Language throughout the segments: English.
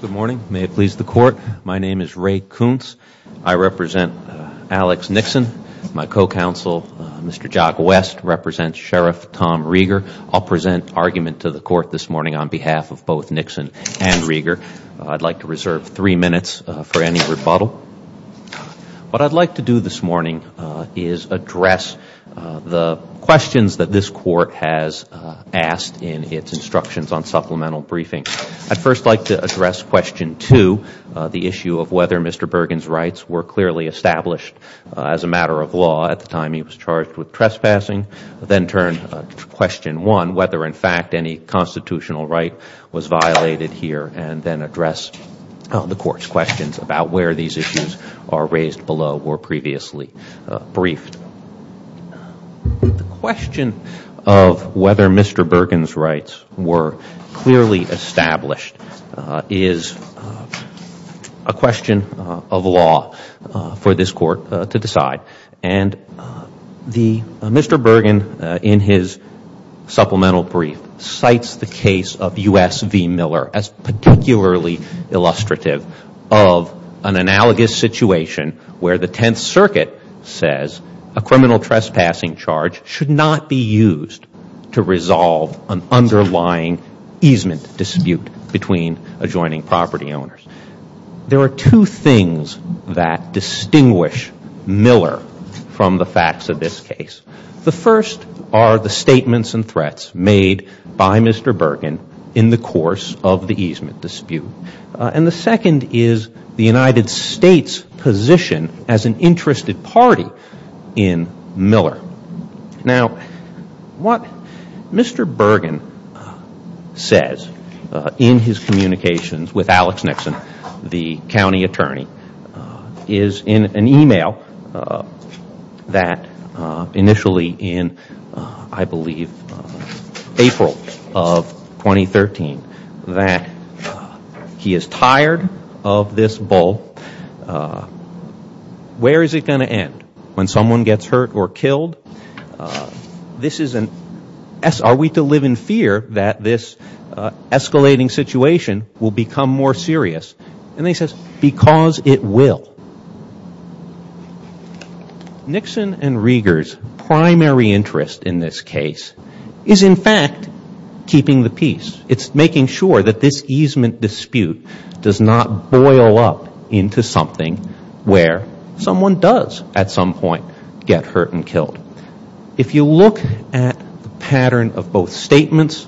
Good morning. May it please the Court, my name is Ray Kuntz. I represent Alex Nixon. My co-counsel, Mr. Jock West, represents Sheriff Tom Rieger. I'll present argument to the Court this morning on behalf of both Nixon and Rieger. I'd like to reserve three minutes for any rebuttal. What I'd like to do this morning is address the questions that this Court has asked in its instructions on supplemental briefing. I'd first like to address question two, the issue of whether Mr. Burgan's rights were clearly established as a matter of law at the time he was charged with trespassing, then turn to question one, whether in fact any constitutional right was violated here, and then address the Court's questions about where these issues are raised below or previously briefed. The question of whether Mr. Burgan's rights were clearly established is a question of law for this Court to decide. And Mr. Burgan, in his supplemental brief, cites the case of U.S. v. Miller as particularly illustrative of an analogous situation where the Tenth Circuit says a criminal trespassing charge should not be used to resolve an underlying easement dispute between adjoining property owners. There are two things that distinguish Miller from the facts of this case. The first are the statements and threats made by Mr. Burgan in the course of the easement dispute. And the second is the United States' position as an interested party in Miller. Now, what Mr. Burgan says in his communications with Alex Nixon, the county attorney, is in an He is tired of this bull. Where is it going to end? When someone gets hurt or killed? This is an – are we to live in fear that this escalating situation will become more serious? And he says, because it will. Nixon and Rieger's primary interest in this case is, in fact, keeping the peace. It's making sure that this easement dispute does not boil up into something where someone does at some point get hurt and killed. If you look at the pattern of both statements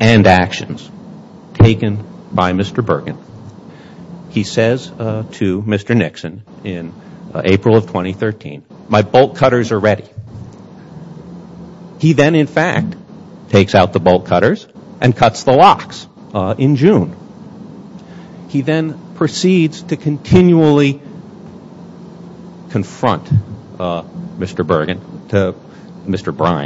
and actions taken by Mr. Burgan, he says to Mr. Nixon in April of 2013, my bolt cutters are ready. He then, in fact, takes out the bolt cutters and cuts the locks in June. He then proceeds to continually confront Mr. Burgan – Mr. What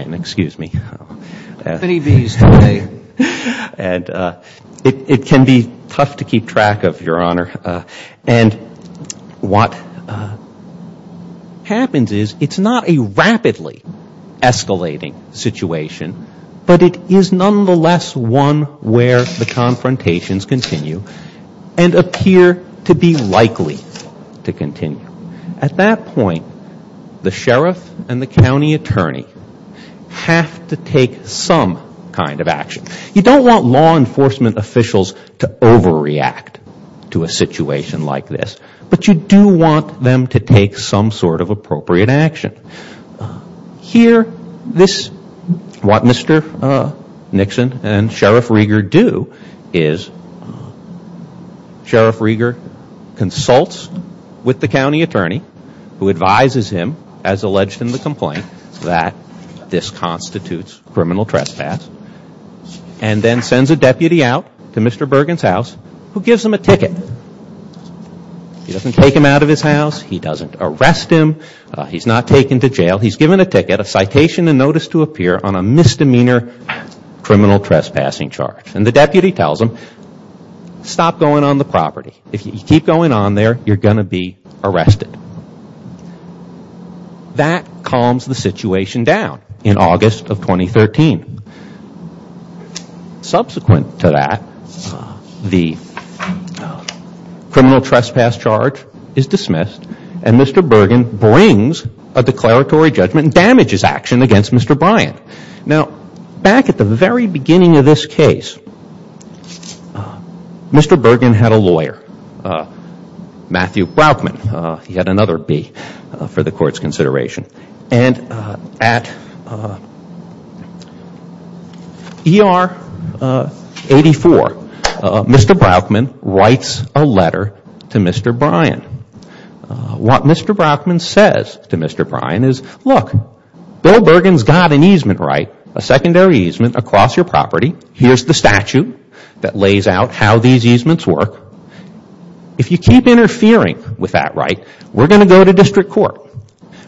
happens is it's not a rapidly escalating situation, but it is nonetheless one where the confrontations continue and appear to be likely to continue. At that point, the sheriff and the county attorney have to take some kind of action. You don't want law enforcement officials to overreact to a situation like this, but you do want them to take some sort of appropriate action. Here, this – what Mr. Nixon and Sheriff Rieger do is Sheriff Rieger consults with the county attorney, who advises him, as alleged in the complaint, that this constitutes criminal trespass, and then sends a deputy out to Mr. Burgan's house, who gives him a ticket. He doesn't take him out of his house. He doesn't arrest him. He's not taken to jail. He's given a ticket, a citation and notice to appear on a misdemeanor criminal trespassing charge. And the deputy tells him, stop going on the situation down in August of 2013. Subsequent to that, the criminal trespass charge is dismissed, and Mr. Burgan brings a declaratory judgment and damages action against Mr. Bryant. Now, back at the very beginning of this case, Mr. Burgan had a lawyer, Matthew Brauchman. He had another B for the Court's consideration. And at ER 84, Mr. Brauchman writes a letter to Mr. Bryant. What Mr. Brauchman says to Mr. Bryant is, look, Bill Burgan's got an easement right, a secondary easement across your property. Here's the statute that lays out how these easements work. If you keep interfering with that right, we're going to go to district court.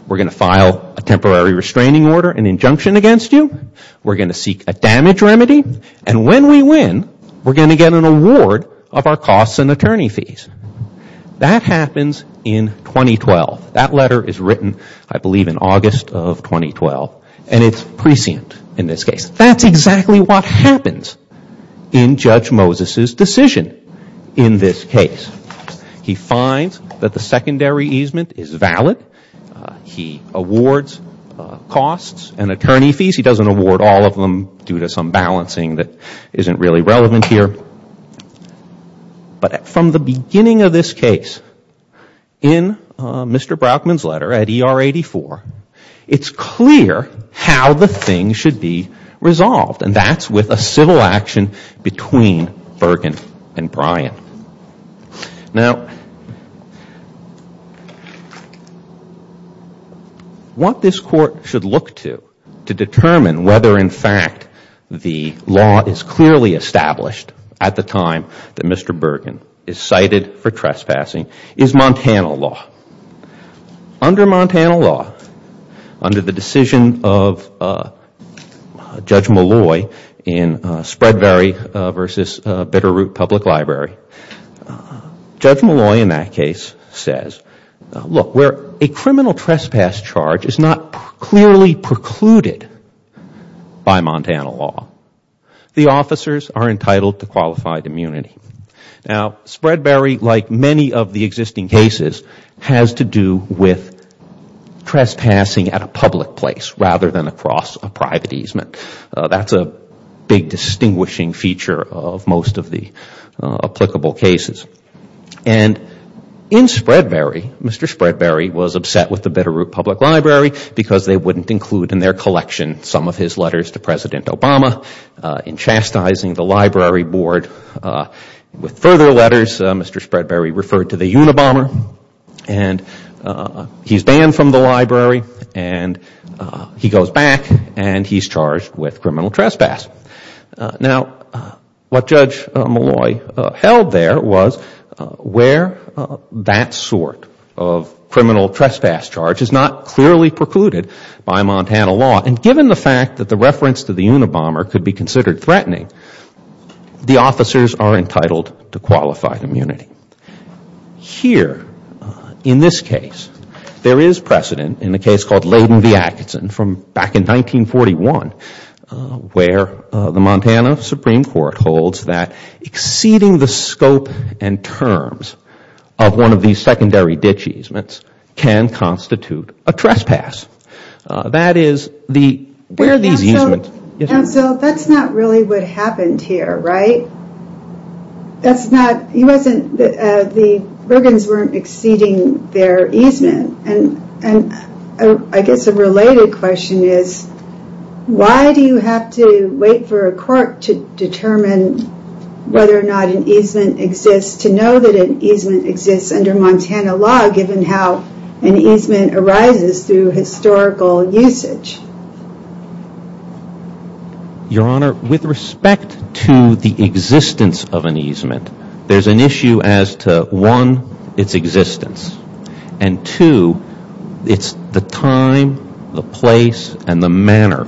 We're going to file a temporary restraining order, an injunction against you. We're going to seek a damage remedy. And when we win, we're going to get an award of our costs and attorney fees. That happens in 2012. That letter is written, I believe, in August of 2012. And it's prescient in this case. That's exactly what happens in Judge Moses' decision in this case. He finds that the secondary easement is valid. He awards costs and attorney fees. He doesn't award all of them due to some balancing that isn't really relevant here. But from the beginning of this case, in Mr. Brauchman's letter at the beginning of this case, there was no interaction between Burgan and Bryant. Now, what this court should look to to determine whether, in fact, the law is clearly established at the time that Mr. Burgan is cited for trespassing is Montana law. Under Montana law, under the Spreadberry v. Bitterroot Public Library, Judge Malloy in that case says, look, where a criminal trespass charge is not clearly precluded by Montana law, the officers are entitled to qualified immunity. Now, Spreadberry, like many of the existing cases, has to do with trespassing at a public place rather than across a private easement. That's a big distinguishing feature of most of the applicable cases. And in Spreadberry, Mr. Spreadberry was upset with the Bitterroot Public Library because they wouldn't include in their collection some of his letters to President Obama. In chastising the library board with further letters, Mr. Spreadberry referred to the Unabomber and he's banned from the library and he goes back and he's charged with criminal trespass. Now, what Judge Malloy held there was where that sort of criminal trespass charge is not clearly precluded by Montana law. And given the fact that the reference to the Unabomber could be considered threatening, the officers are entitled to qualified immunity. Here in this case, there is precedent in a case called Laden v. Atkinson from back in 1941 where the Montana Supreme Court holds that exceeding the scope and terms of one of these secondary ditch easements can constitute a trespass. That is, where these easements are located. So, that's not really what happened here, right? The Bergens weren't exceeding their easement and I guess a related question is, why do you have to wait for a court to determine whether or not an easement exists to know that an easement exists under Montana law given how an easement arises through historical usage? Your Honor, with respect to the existence of an easement, there's an issue as to, one, its existence. And two, it's the time, the place, and the manner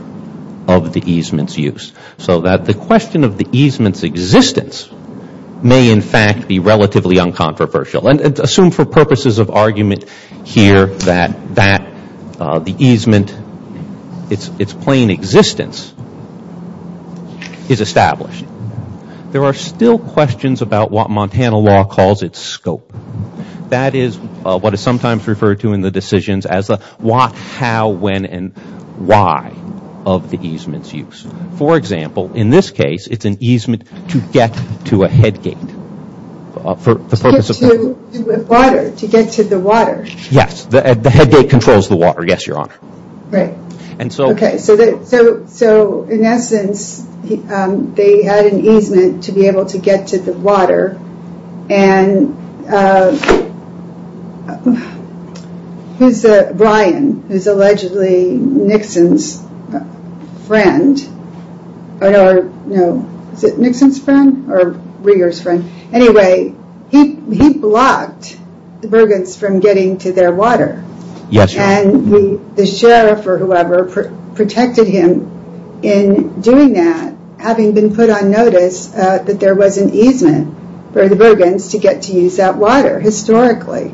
of the easement's use. So that the question of the easement's existence may in fact be relatively uncontroversial. And assume for purposes of argument here that the easement, its plain existence, is established. There are still questions about what Montana law calls its scope. That is what is sometimes referred to in the decisions as the what, how, when, and why of the easement's use. For example, in this case, it's an easement to get to a head gate. To get to the water. Yes, the head gate controls the water, yes, Your Honor. Right. So in essence, they had an easement to be able to get to the water. And Brian, who's allegedly Nixon's friend, or no, is it Nixon's friend, or Rieger's friend, anyway, he blocked the Bergens from getting to their water. Yes, Your Honor. And the sheriff or whoever protected him in doing that, having been put on notice that there was an easement for the Bergens to get to use that water, historically.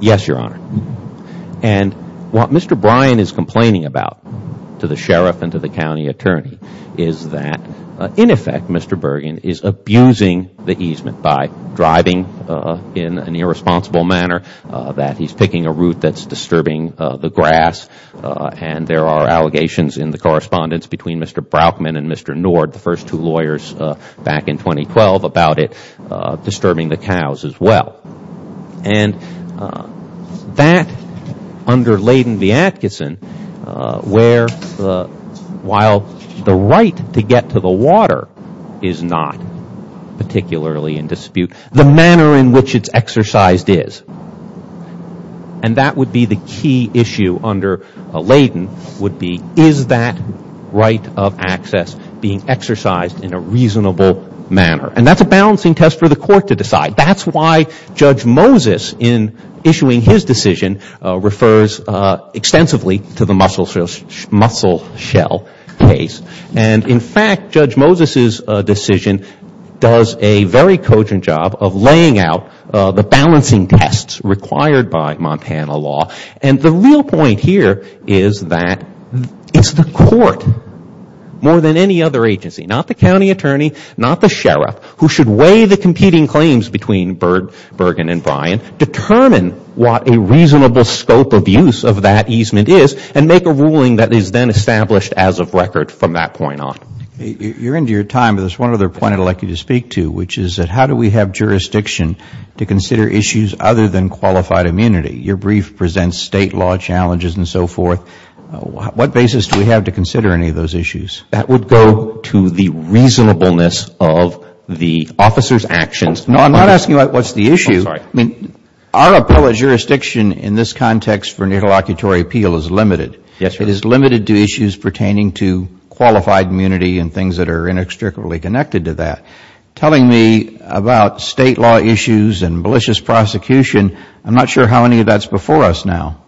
Yes, Your Honor. And what Mr. Brian is complaining about to the sheriff and to the county attorney is that, in effect, Mr. Bergen is abusing the easement by driving in an irresponsible manner. That he's picking a route that's disturbing the grass. And there are allegations in the correspondence between Mr. Brauchman and Mr. Nord, the first two lawyers back in 2012, about it disturbing the cows as well. And that, under Layden v. Atkinson, where while the right to get to the water is not particularly in dispute, the manner in which it's exercised is. And that would be the key issue under Layden, would be, is that right of access being exercised in a reasonable manner? And that's a balancing test for the court to decide. That's why Judge Moses, in issuing his decision, refers extensively to the mussel shell case. And, in fact, Judge Moses' decision does a very cogent job of laying out the balancing tests required by Montana law. And the real point here is that it's the court, more than any other agency, not the county attorney, not the sheriff, who should weigh the competing claims between Bergen and Bryan, determine what a reasonable scope of use of that easement is, and make a ruling that is then established as of record from that point on. You're into your time, but there's one other point I'd like you to speak to, which is that how do we have jurisdiction to consider issues other than qualified immunity? Your brief presents state law challenges and so forth. What basis do we have to consider any of those issues? That would go to the reasonableness of the officer's actions. No, I'm not asking what's the issue. I'm sorry. I mean, our appellate jurisdiction in this context for an interlocutory appeal is limited. Yes, sir. It is limited to issues pertaining to qualified immunity and things that are inextricably connected to that. Telling me about State law issues and malicious prosecution, I'm not sure how many of that's before us now.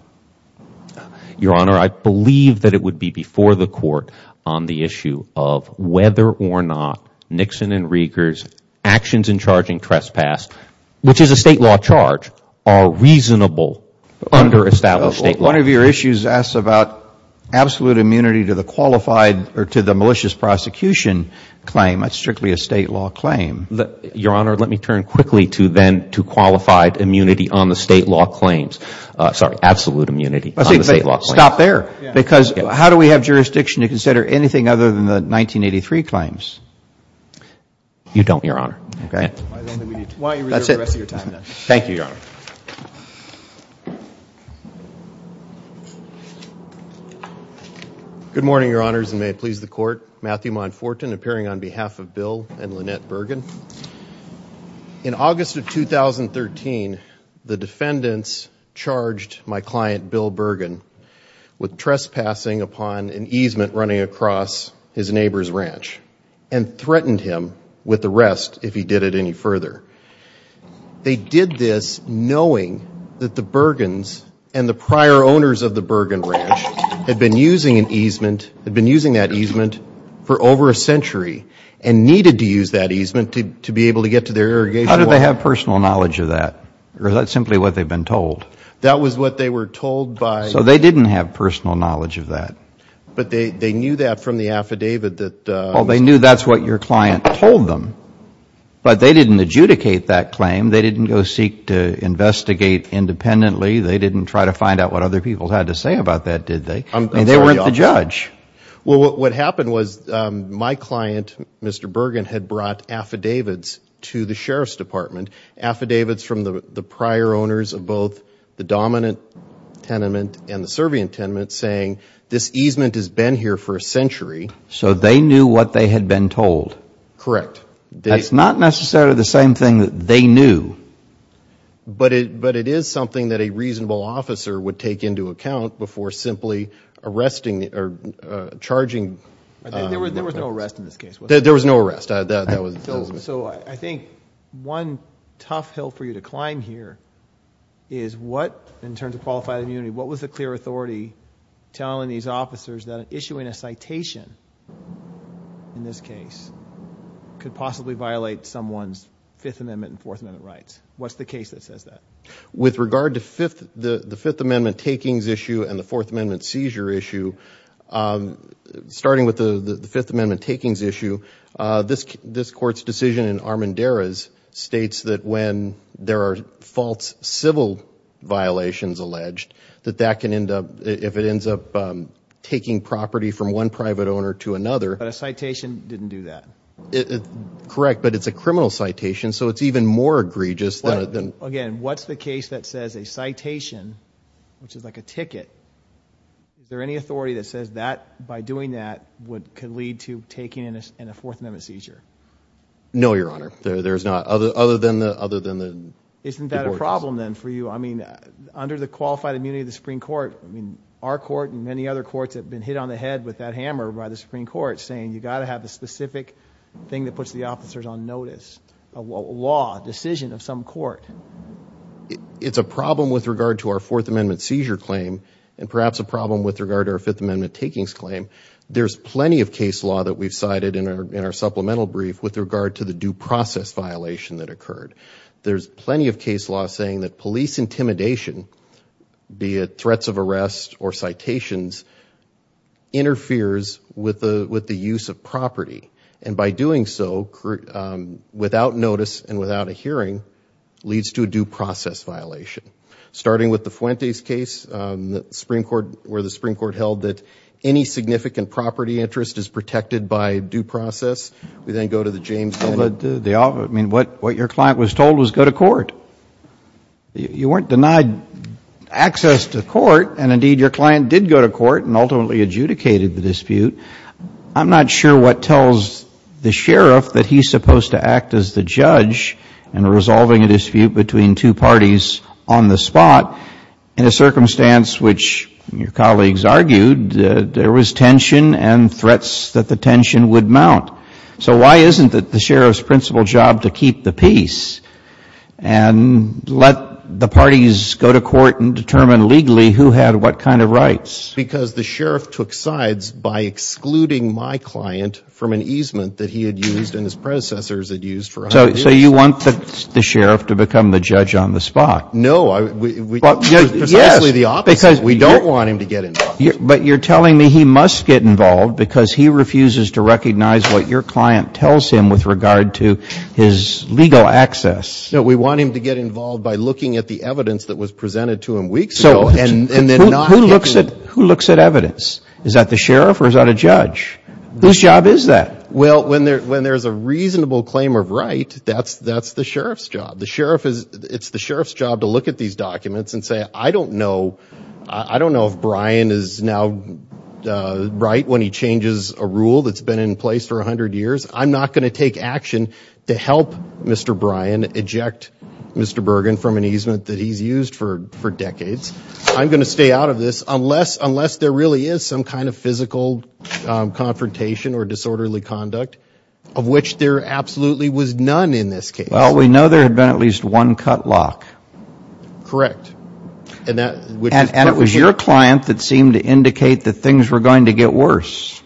Your Honor, I believe that it would be before the Court on the issue of whether or not Nixon and Rieger's actions in charging trespass, which is a State law charge, are reasonable under established State law. One of your issues asks about absolute immunity to the qualified or to the malicious prosecution claim. That's strictly a State law claim. Your Honor, let me turn quickly to then to qualified immunity on the State law claims. Sorry, absolute immunity on the State law claims. Stop there. Because how do we have jurisdiction to consider anything other than the 1983 claims? You don't, Your Honor. Okay. That's it. Thank you, Your Honor. Good morning, Your Honors, and may it please the Court. Matthew Monfortin appearing on behalf of Bill and Lynette Bergen. In August of 2013, the defendants charged my client, Bill Bergen, with trespassing upon an easement running across his neighbor's ranch and threatened him with arrest if he did it any further. They did this knowing that the Bergens and the prior owners of the Bergen ranch had been using that easement for over a century and needed to use that easement to be able to get to their irrigation water. How did they have personal knowledge of that? Or is that simply what they've been told? That was what they were told by. So they didn't have personal knowledge of that. But they knew that from the affidavit that. Well, they knew that's what your client told them. But they didn't adjudicate that claim. They didn't go seek to investigate independently. They didn't try to find out what other people had to say about that, did they? They weren't the judge. Well, what happened was my client, Mr. Bergen, had brought affidavits to the Sheriff's Department, affidavits from the prior owners of both the dominant tenement and the serving tenement saying this easement has been here for a century. So they knew what they had been told. Correct. That's not necessarily the same thing that they knew. But it is something that a reasonable officer would take into account before simply arresting or charging. There was no arrest in this case, was there? There was no arrest. So I think one tough hill for you to climb here is what, in terms of qualified immunity, what was the clear authority telling these officers that issuing a citation in this case could possibly violate someone's Fifth Amendment and Fourth Amendment rights? What's the case that says that? With regard to the Fifth Amendment takings issue and the Fourth Amendment seizure issue, starting with the Fifth Amendment takings issue, this Court's decision in Armendariz states that when there are false civil violations alleged, that that can end up, if it ends up taking property from one private owner to another. But a citation didn't do that. Correct, but it's a criminal citation, so it's even more egregious than So, again, what's the case that says a citation, which is like a ticket, is there any authority that says that, by doing that, could lead to taking in a Fourth Amendment seizure? No, Your Honor. There's not, other than the deportees. Isn't that a problem then for you? I mean, under the qualified immunity of the Supreme Court, our court and many other courts have been hit on the head with that hammer by the Supreme Court, saying you've got to have a specific thing that puts the officers on notice, a law, a decision of some court. It's a problem with regard to our Fourth Amendment seizure claim and perhaps a problem with regard to our Fifth Amendment takings claim. There's plenty of case law that we've cited in our supplemental brief with regard to the due process violation that occurred. There's plenty of case law saying that police intimidation, be it threats of arrest or citations, interferes with the use of property, and by doing so, without notice and without a hearing, leads to a due process violation. Starting with the Fuentes case, where the Supreme Court held that any significant property interest is protected by due process. We then go to the James Bennett. I mean, what your client was told was go to court. You weren't denied access to court, and indeed your client did go to court and ultimately adjudicated the dispute. I'm not sure what tells the sheriff that he's supposed to act as the judge in resolving a dispute between two parties on the spot in a circumstance which, your colleagues argued, there was tension and threats that the tension would mount. So why isn't it the sheriff's principal job to keep the peace and let the parties go to court and determine legally who had what kind of rights? Because the sheriff took sides by excluding my client from an easement that he had used and his predecessors had used for a hundred years. So you want the sheriff to become the judge on the spot. No, precisely the opposite. We don't want him to get involved. But you're telling me he must get involved because he refuses to recognize what your client tells him with regard to his legal access. No, we want him to get involved by looking at the evidence that was presented to him weeks ago. Who looks at evidence? Is that the sheriff or is that a judge? Whose job is that? Well, when there's a reasonable claim of right, that's the sheriff's job. It's the sheriff's job to look at these documents and say, I don't know if Brian is now right when he changes a rule that's been in place for a hundred years. I'm not going to take action to help Mr. Brian eject Mr. Bergen from an easement that he's used for decades. I'm going to stay out of this unless there really is some kind of physical confrontation or disorderly conduct, of which there absolutely was none in this case. Well, we know there had been at least one cut lock. Correct. And it was your client that seemed to indicate that things were going to get worse.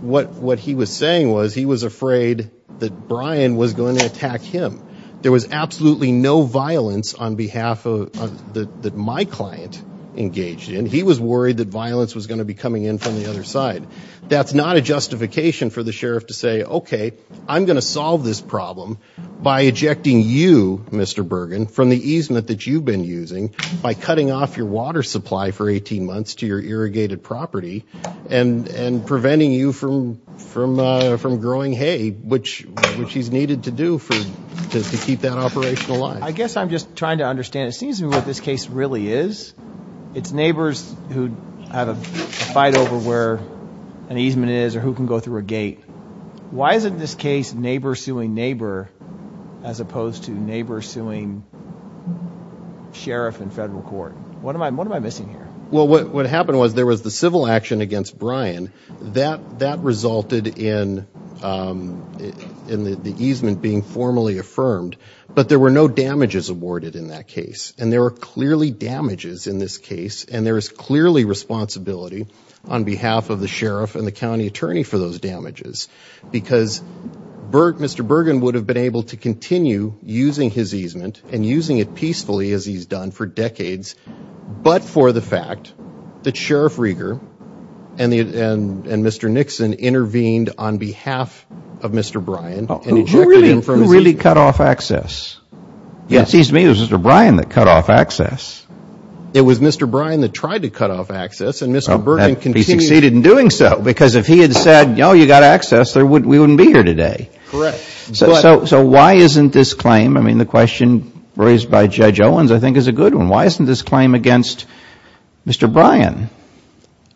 What he was saying was he was afraid that Brian was going to attack him. There was absolutely no violence on behalf of my client engaged in. He was worried that violence was going to be coming in from the other side. That's not a justification for the sheriff to say, OK, I'm going to solve this problem by ejecting you, Mr. Bergen, from the easement that you've been using by cutting off your water supply for 18 months to your irrigated property and preventing you from growing hay, which he's needed to do to keep that operation alive. I guess I'm just trying to understand. It seems to me what this case really is. It's neighbors who have a fight over where an easement is or who can go through a gate. Why is it in this case neighbor suing neighbor as opposed to neighbor suing sheriff in federal court? What am I missing here? Well, what happened was there was the civil action against Brian that that resulted in the easement being formally affirmed. But there were no damages awarded in that case. And there are clearly damages in this case. And there is clearly responsibility on behalf of the sheriff and the county attorney for those damages. Because Mr. Bergen would have been able to continue using his easement and using it peacefully as he's done for decades. But for the fact that Sheriff Rieger and Mr. Nixon intervened on behalf of Mr. Brian. Who really cut off access? It seems to me it was Mr. Brian that cut off access. It was Mr. Brian that tried to cut off access. And Mr. Bergen continued. He succeeded in doing so. Because if he had said, you know, you've got access, we wouldn't be here today. Correct. So why isn't this claim, I mean, the question raised by Judge Owens I think is a good one. Why isn't this claim against Mr. Brian?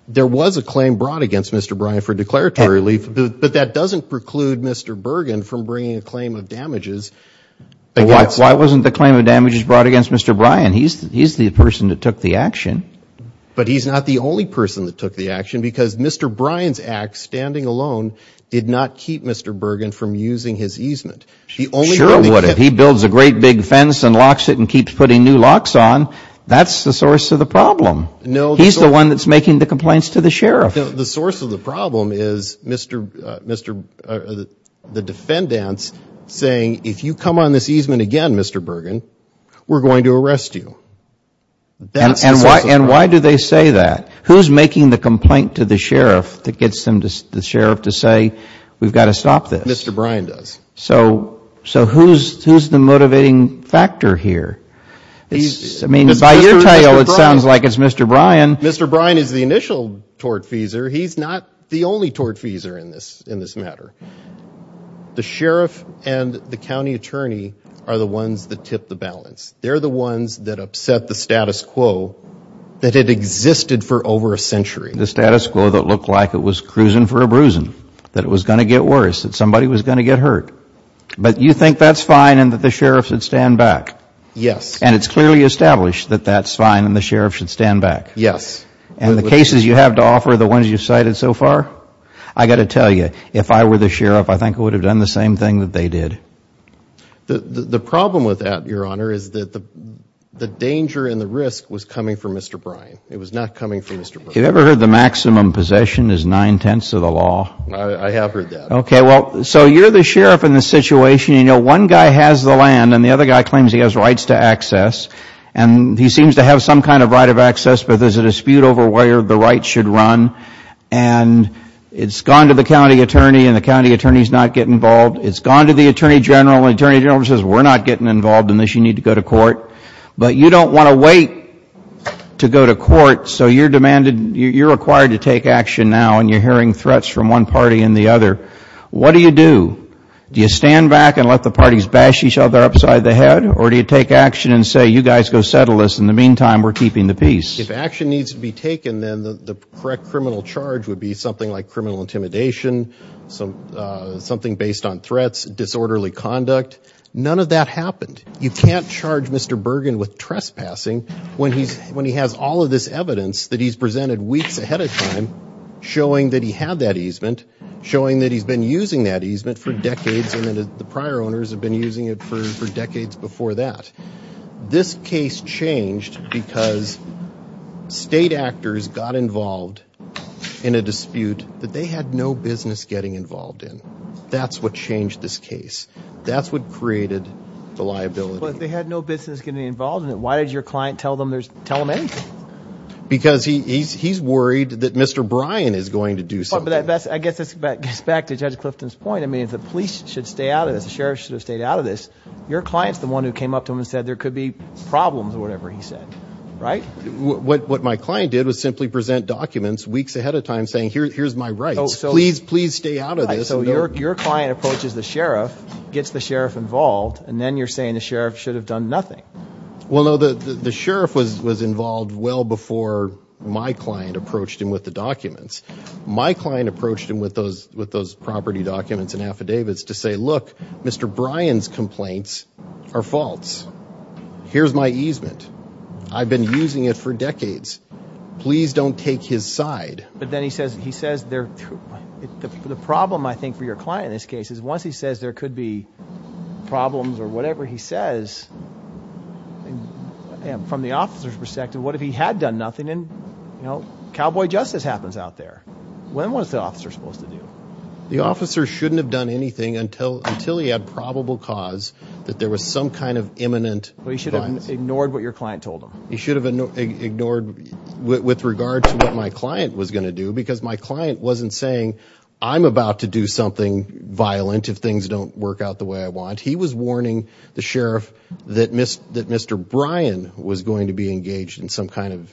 There was a claim brought against Mr. Brian for declaratory relief. But that doesn't preclude Mr. Bergen from bringing a claim of damages. Why wasn't the claim of damages brought against Mr. Brian? He's the person that took the action. But he's not the only person that took the action. Because Mr. Brian's act, standing alone, did not keep Mr. Bergen from using his easement. Sure it would have. He builds a great big fence and locks it and keeps putting new locks on. That's the source of the problem. He's the one that's making the complaints to the sheriff. The source of the problem is the defendants saying, if you come on this easement again, Mr. Bergen, we're going to arrest you. And why do they say that? Who's making the complaint to the sheriff that gets the sheriff to say we've got to stop this? Mr. Brian does. So who's the motivating factor here? I mean, by your tale, it sounds like it's Mr. Brian. Mr. Brian is the initial tortfeasor. He's not the only tortfeasor in this matter. The sheriff and the county attorney are the ones that tip the balance. They're the ones that upset the status quo that had existed for over a century. The status quo that looked like it was cruising for a bruising, that it was going to get worse, that somebody was going to get hurt. But you think that's fine and that the sheriff should stand back? Yes. And it's clearly established that that's fine and the sheriff should stand back? Yes. And the cases you have to offer, the ones you've cited so far, I've got to tell you, if I were the sheriff, I think I would have done the same thing that they did. The problem with that, Your Honor, is that the danger and the risk was coming from Mr. Brian. It was not coming from Mr. Bergen. Have you ever heard the maximum possession is nine-tenths of the law? I have heard that. Okay. Well, so you're the sheriff in this situation. You know, one guy has the land and the other guy claims he has rights to access. And he seems to have some kind of right of access, but there's a dispute over where the rights should run. And it's gone to the county attorney and the county attorney's not getting involved. It's gone to the attorney general and the attorney general says we're not getting involved unless you need to go to court. But you don't want to wait to go to court, so you're demanded, you're required to take action now, and you're hearing threats from one party and the other. What do you do? Do you stand back and let the parties bash each other upside the head, or do you take action and say, you guys go settle this, in the meantime, we're keeping the peace? If action needs to be taken, then the correct criminal charge would be something like criminal intimidation, something based on threats, disorderly conduct. None of that happened. You can't charge Mr. Bergen with trespassing when he has all of this evidence that he's presented weeks ahead of time showing that he had that easement, showing that he's been using that easement for decades and that the prior owners have been using it for decades before that. This case changed because state actors got involved in a dispute that they had no business getting involved in. That's what changed this case. That's what created the liability. But they had no business getting involved in it. Why did your client tell them anything? Because he's worried that Mr. Bryan is going to do something. I guess that gets back to Judge Clifton's point. I mean, the police should stay out of this. The sheriff should have stayed out of this. Your client's the one who came up to him and said there could be problems or whatever he said, right? What my client did was simply present documents weeks ahead of time saying, here's my rights. Please, please stay out of this. So your client approaches the sheriff, gets the sheriff involved, and then you're saying the sheriff should have done nothing. Well, no, the sheriff was involved well before my client approached him with the documents. My client approached him with those property documents and affidavits to say, look, Mr. Bryan's complaints are false. Here's my easement. I've been using it for decades. Please don't take his side. But then he says, the problem, I think, for your client in this case is once he says there could be problems or whatever he says, from the officer's perspective, what if he had done nothing? Cowboy justice happens out there. When was the officer supposed to do? The officer shouldn't have done anything until he had probable cause that there was some kind of imminent violence. Well, he should have ignored what your client told him. He should have ignored with regard to what my client was going to do because my client wasn't saying, I'm about to do something violent if things don't work out the way I want. He was warning the sheriff that Mr. Bryan was going to be engaged in some kind of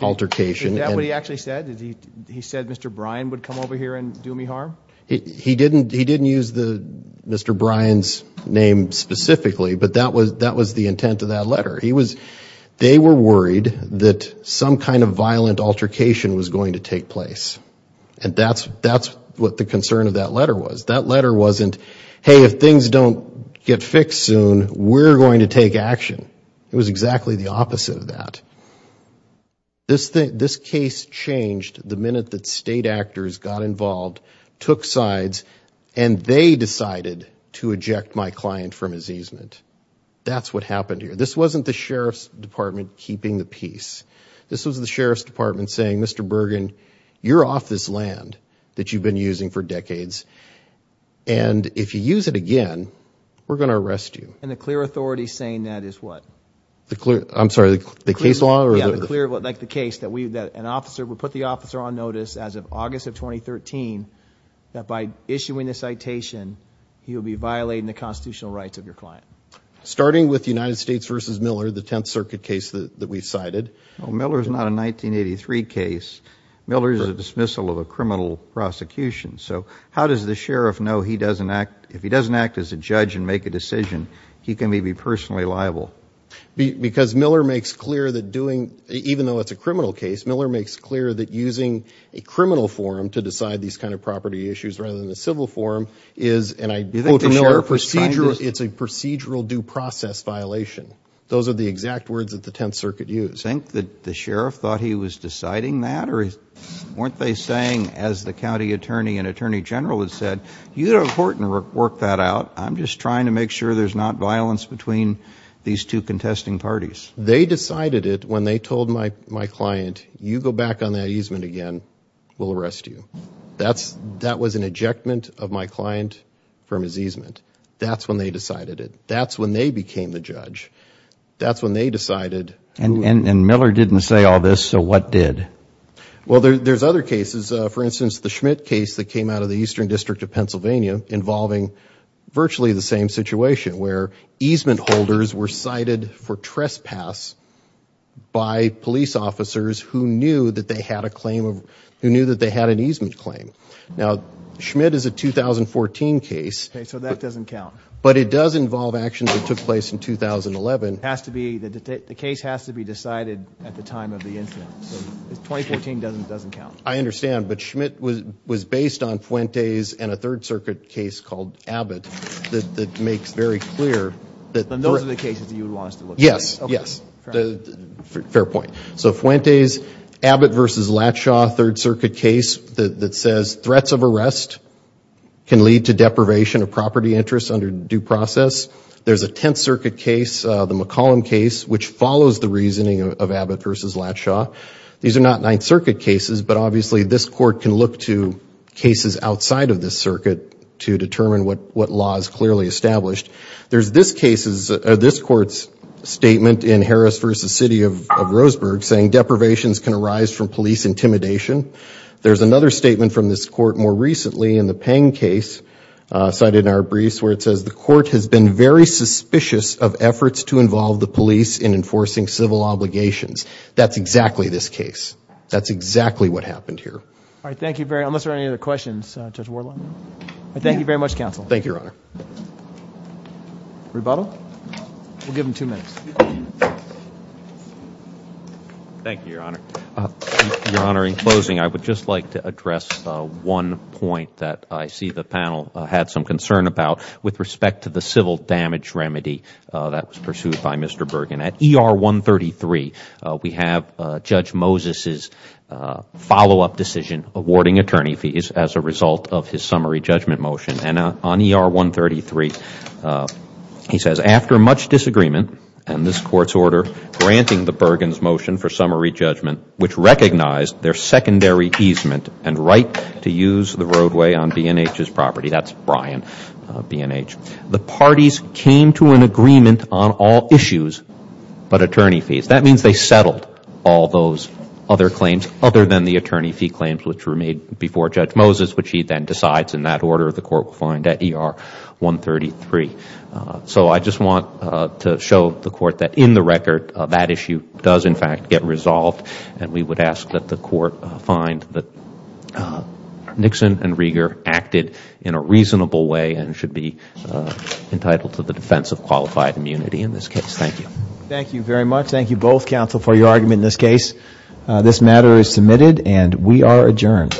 altercation. Is that what he actually said? He said Mr. Bryan would come over here and do me harm? He didn't use Mr. Bryan's name specifically, but that was the intent of that letter. They were worried that some kind of violent altercation was going to take place. And that's what the concern of that letter was. That letter wasn't, hey, if things don't get fixed soon, we're going to take action. It was exactly the opposite of that. This case changed the minute that state actors got involved, took sides, and they decided to eject my client from his easement. That's what happened here. This wasn't the sheriff's department keeping the peace. This was the sheriff's department saying, Mr. Bergen, you're off this land that you've been using for decades. And if you use it again, we're going to arrest you. And the clear authority saying that is what? I'm sorry, the case law? Yeah, like the case that an officer would put the officer on notice as of August of 2013 that by issuing the citation, he would be violating the constitutional rights of your client. Starting with United States v. Miller, the Tenth Circuit case that we cited. Well, Miller is not a 1983 case. Miller is a dismissal of a criminal prosecution. So how does the sheriff know if he doesn't act as a judge and make a decision, he can maybe be personally liable? Because Miller makes clear that doing, even though it's a criminal case, Miller makes clear that using a criminal forum to decide these kind of property issues rather than a civil forum is, and I quote from Miller, procedural, it's a procedural due process violation. Those are the exact words that the Tenth Circuit used. Do you think that the sheriff thought he was deciding that? Or weren't they saying, as the county attorney and attorney general had said, you know, it's important to work that out. I'm just trying to make sure there's not violence between these two contesting parties. They decided it when they told my client, you go back on that easement again, we'll arrest you. That was an ejectment of my client from his easement. That's when they decided it. That's when they became the judge. That's when they decided. And Miller didn't say all this, so what did? Well, there's other cases. For instance, the Schmidt case that came out of the Eastern District of Pennsylvania involving virtually the same situation, where easement holders were cited for trespass by police officers who knew that they had an easement claim. Now, Schmidt is a 2014 case. Okay, so that doesn't count. But it does involve actions that took place in 2011. The case has to be decided at the time of the incident. So 2014 doesn't count. I understand, but Schmidt was based on Fuentes and a Third Circuit case called Abbott that makes very clear. And those are the cases that you launched? Yes, yes. Fair point. So Fuentes, Abbott v. Latshaw, Third Circuit case that says threats of arrest can lead to deprivation of property interest under due process. There's a Tenth Circuit case, the McCollum case, which follows the reasoning of Abbott v. Latshaw. These are not Ninth Circuit cases, but obviously this court can look to cases outside of this circuit to determine what law is clearly established. There's this court's statement in Harris v. City of Roseburg saying deprivations can arise from police intimidation. There's another statement from this court more recently in the Peng case, cited in our briefs, where it says the court has been very suspicious of efforts to involve the police in enforcing civil obligations. That's exactly this case. That's exactly what happened here. All right, thank you very much. Unless there are any other questions, Judge Wardlaw? Thank you very much, counsel. Thank you, Your Honor. Rebuttal? We'll give them two minutes. Thank you, Your Honor. Your Honor, in closing, I would just like to address one point that I see the panel had some concern about with respect to the civil damage remedy that was pursued by Mr. Bergen. At ER 133, we have Judge Moses's follow-up decision awarding attorney fees as a result of his summary judgment motion. And on ER 133, he says, After much disagreement, and this court's order granting the Bergens motion for summary judgment, which recognized their secondary easement and right to use the roadway on B&H's property, that's Brian B&H, the parties came to an agreement on all issues but attorney fees. That means they settled all those other claims other than the attorney fee claims which were made before Judge Moses, which he then decides in that order the court will find at ER 133. So I just want to show the court that in the record, that issue does, in fact, get resolved. And we would ask that the court find that Nixon and Rieger acted in a reasonable way and should be entitled to the defense of qualified immunity in this case. Thank you. Thank you very much. Thank you both, counsel, for your argument in this case. This matter is submitted and we are adjourned.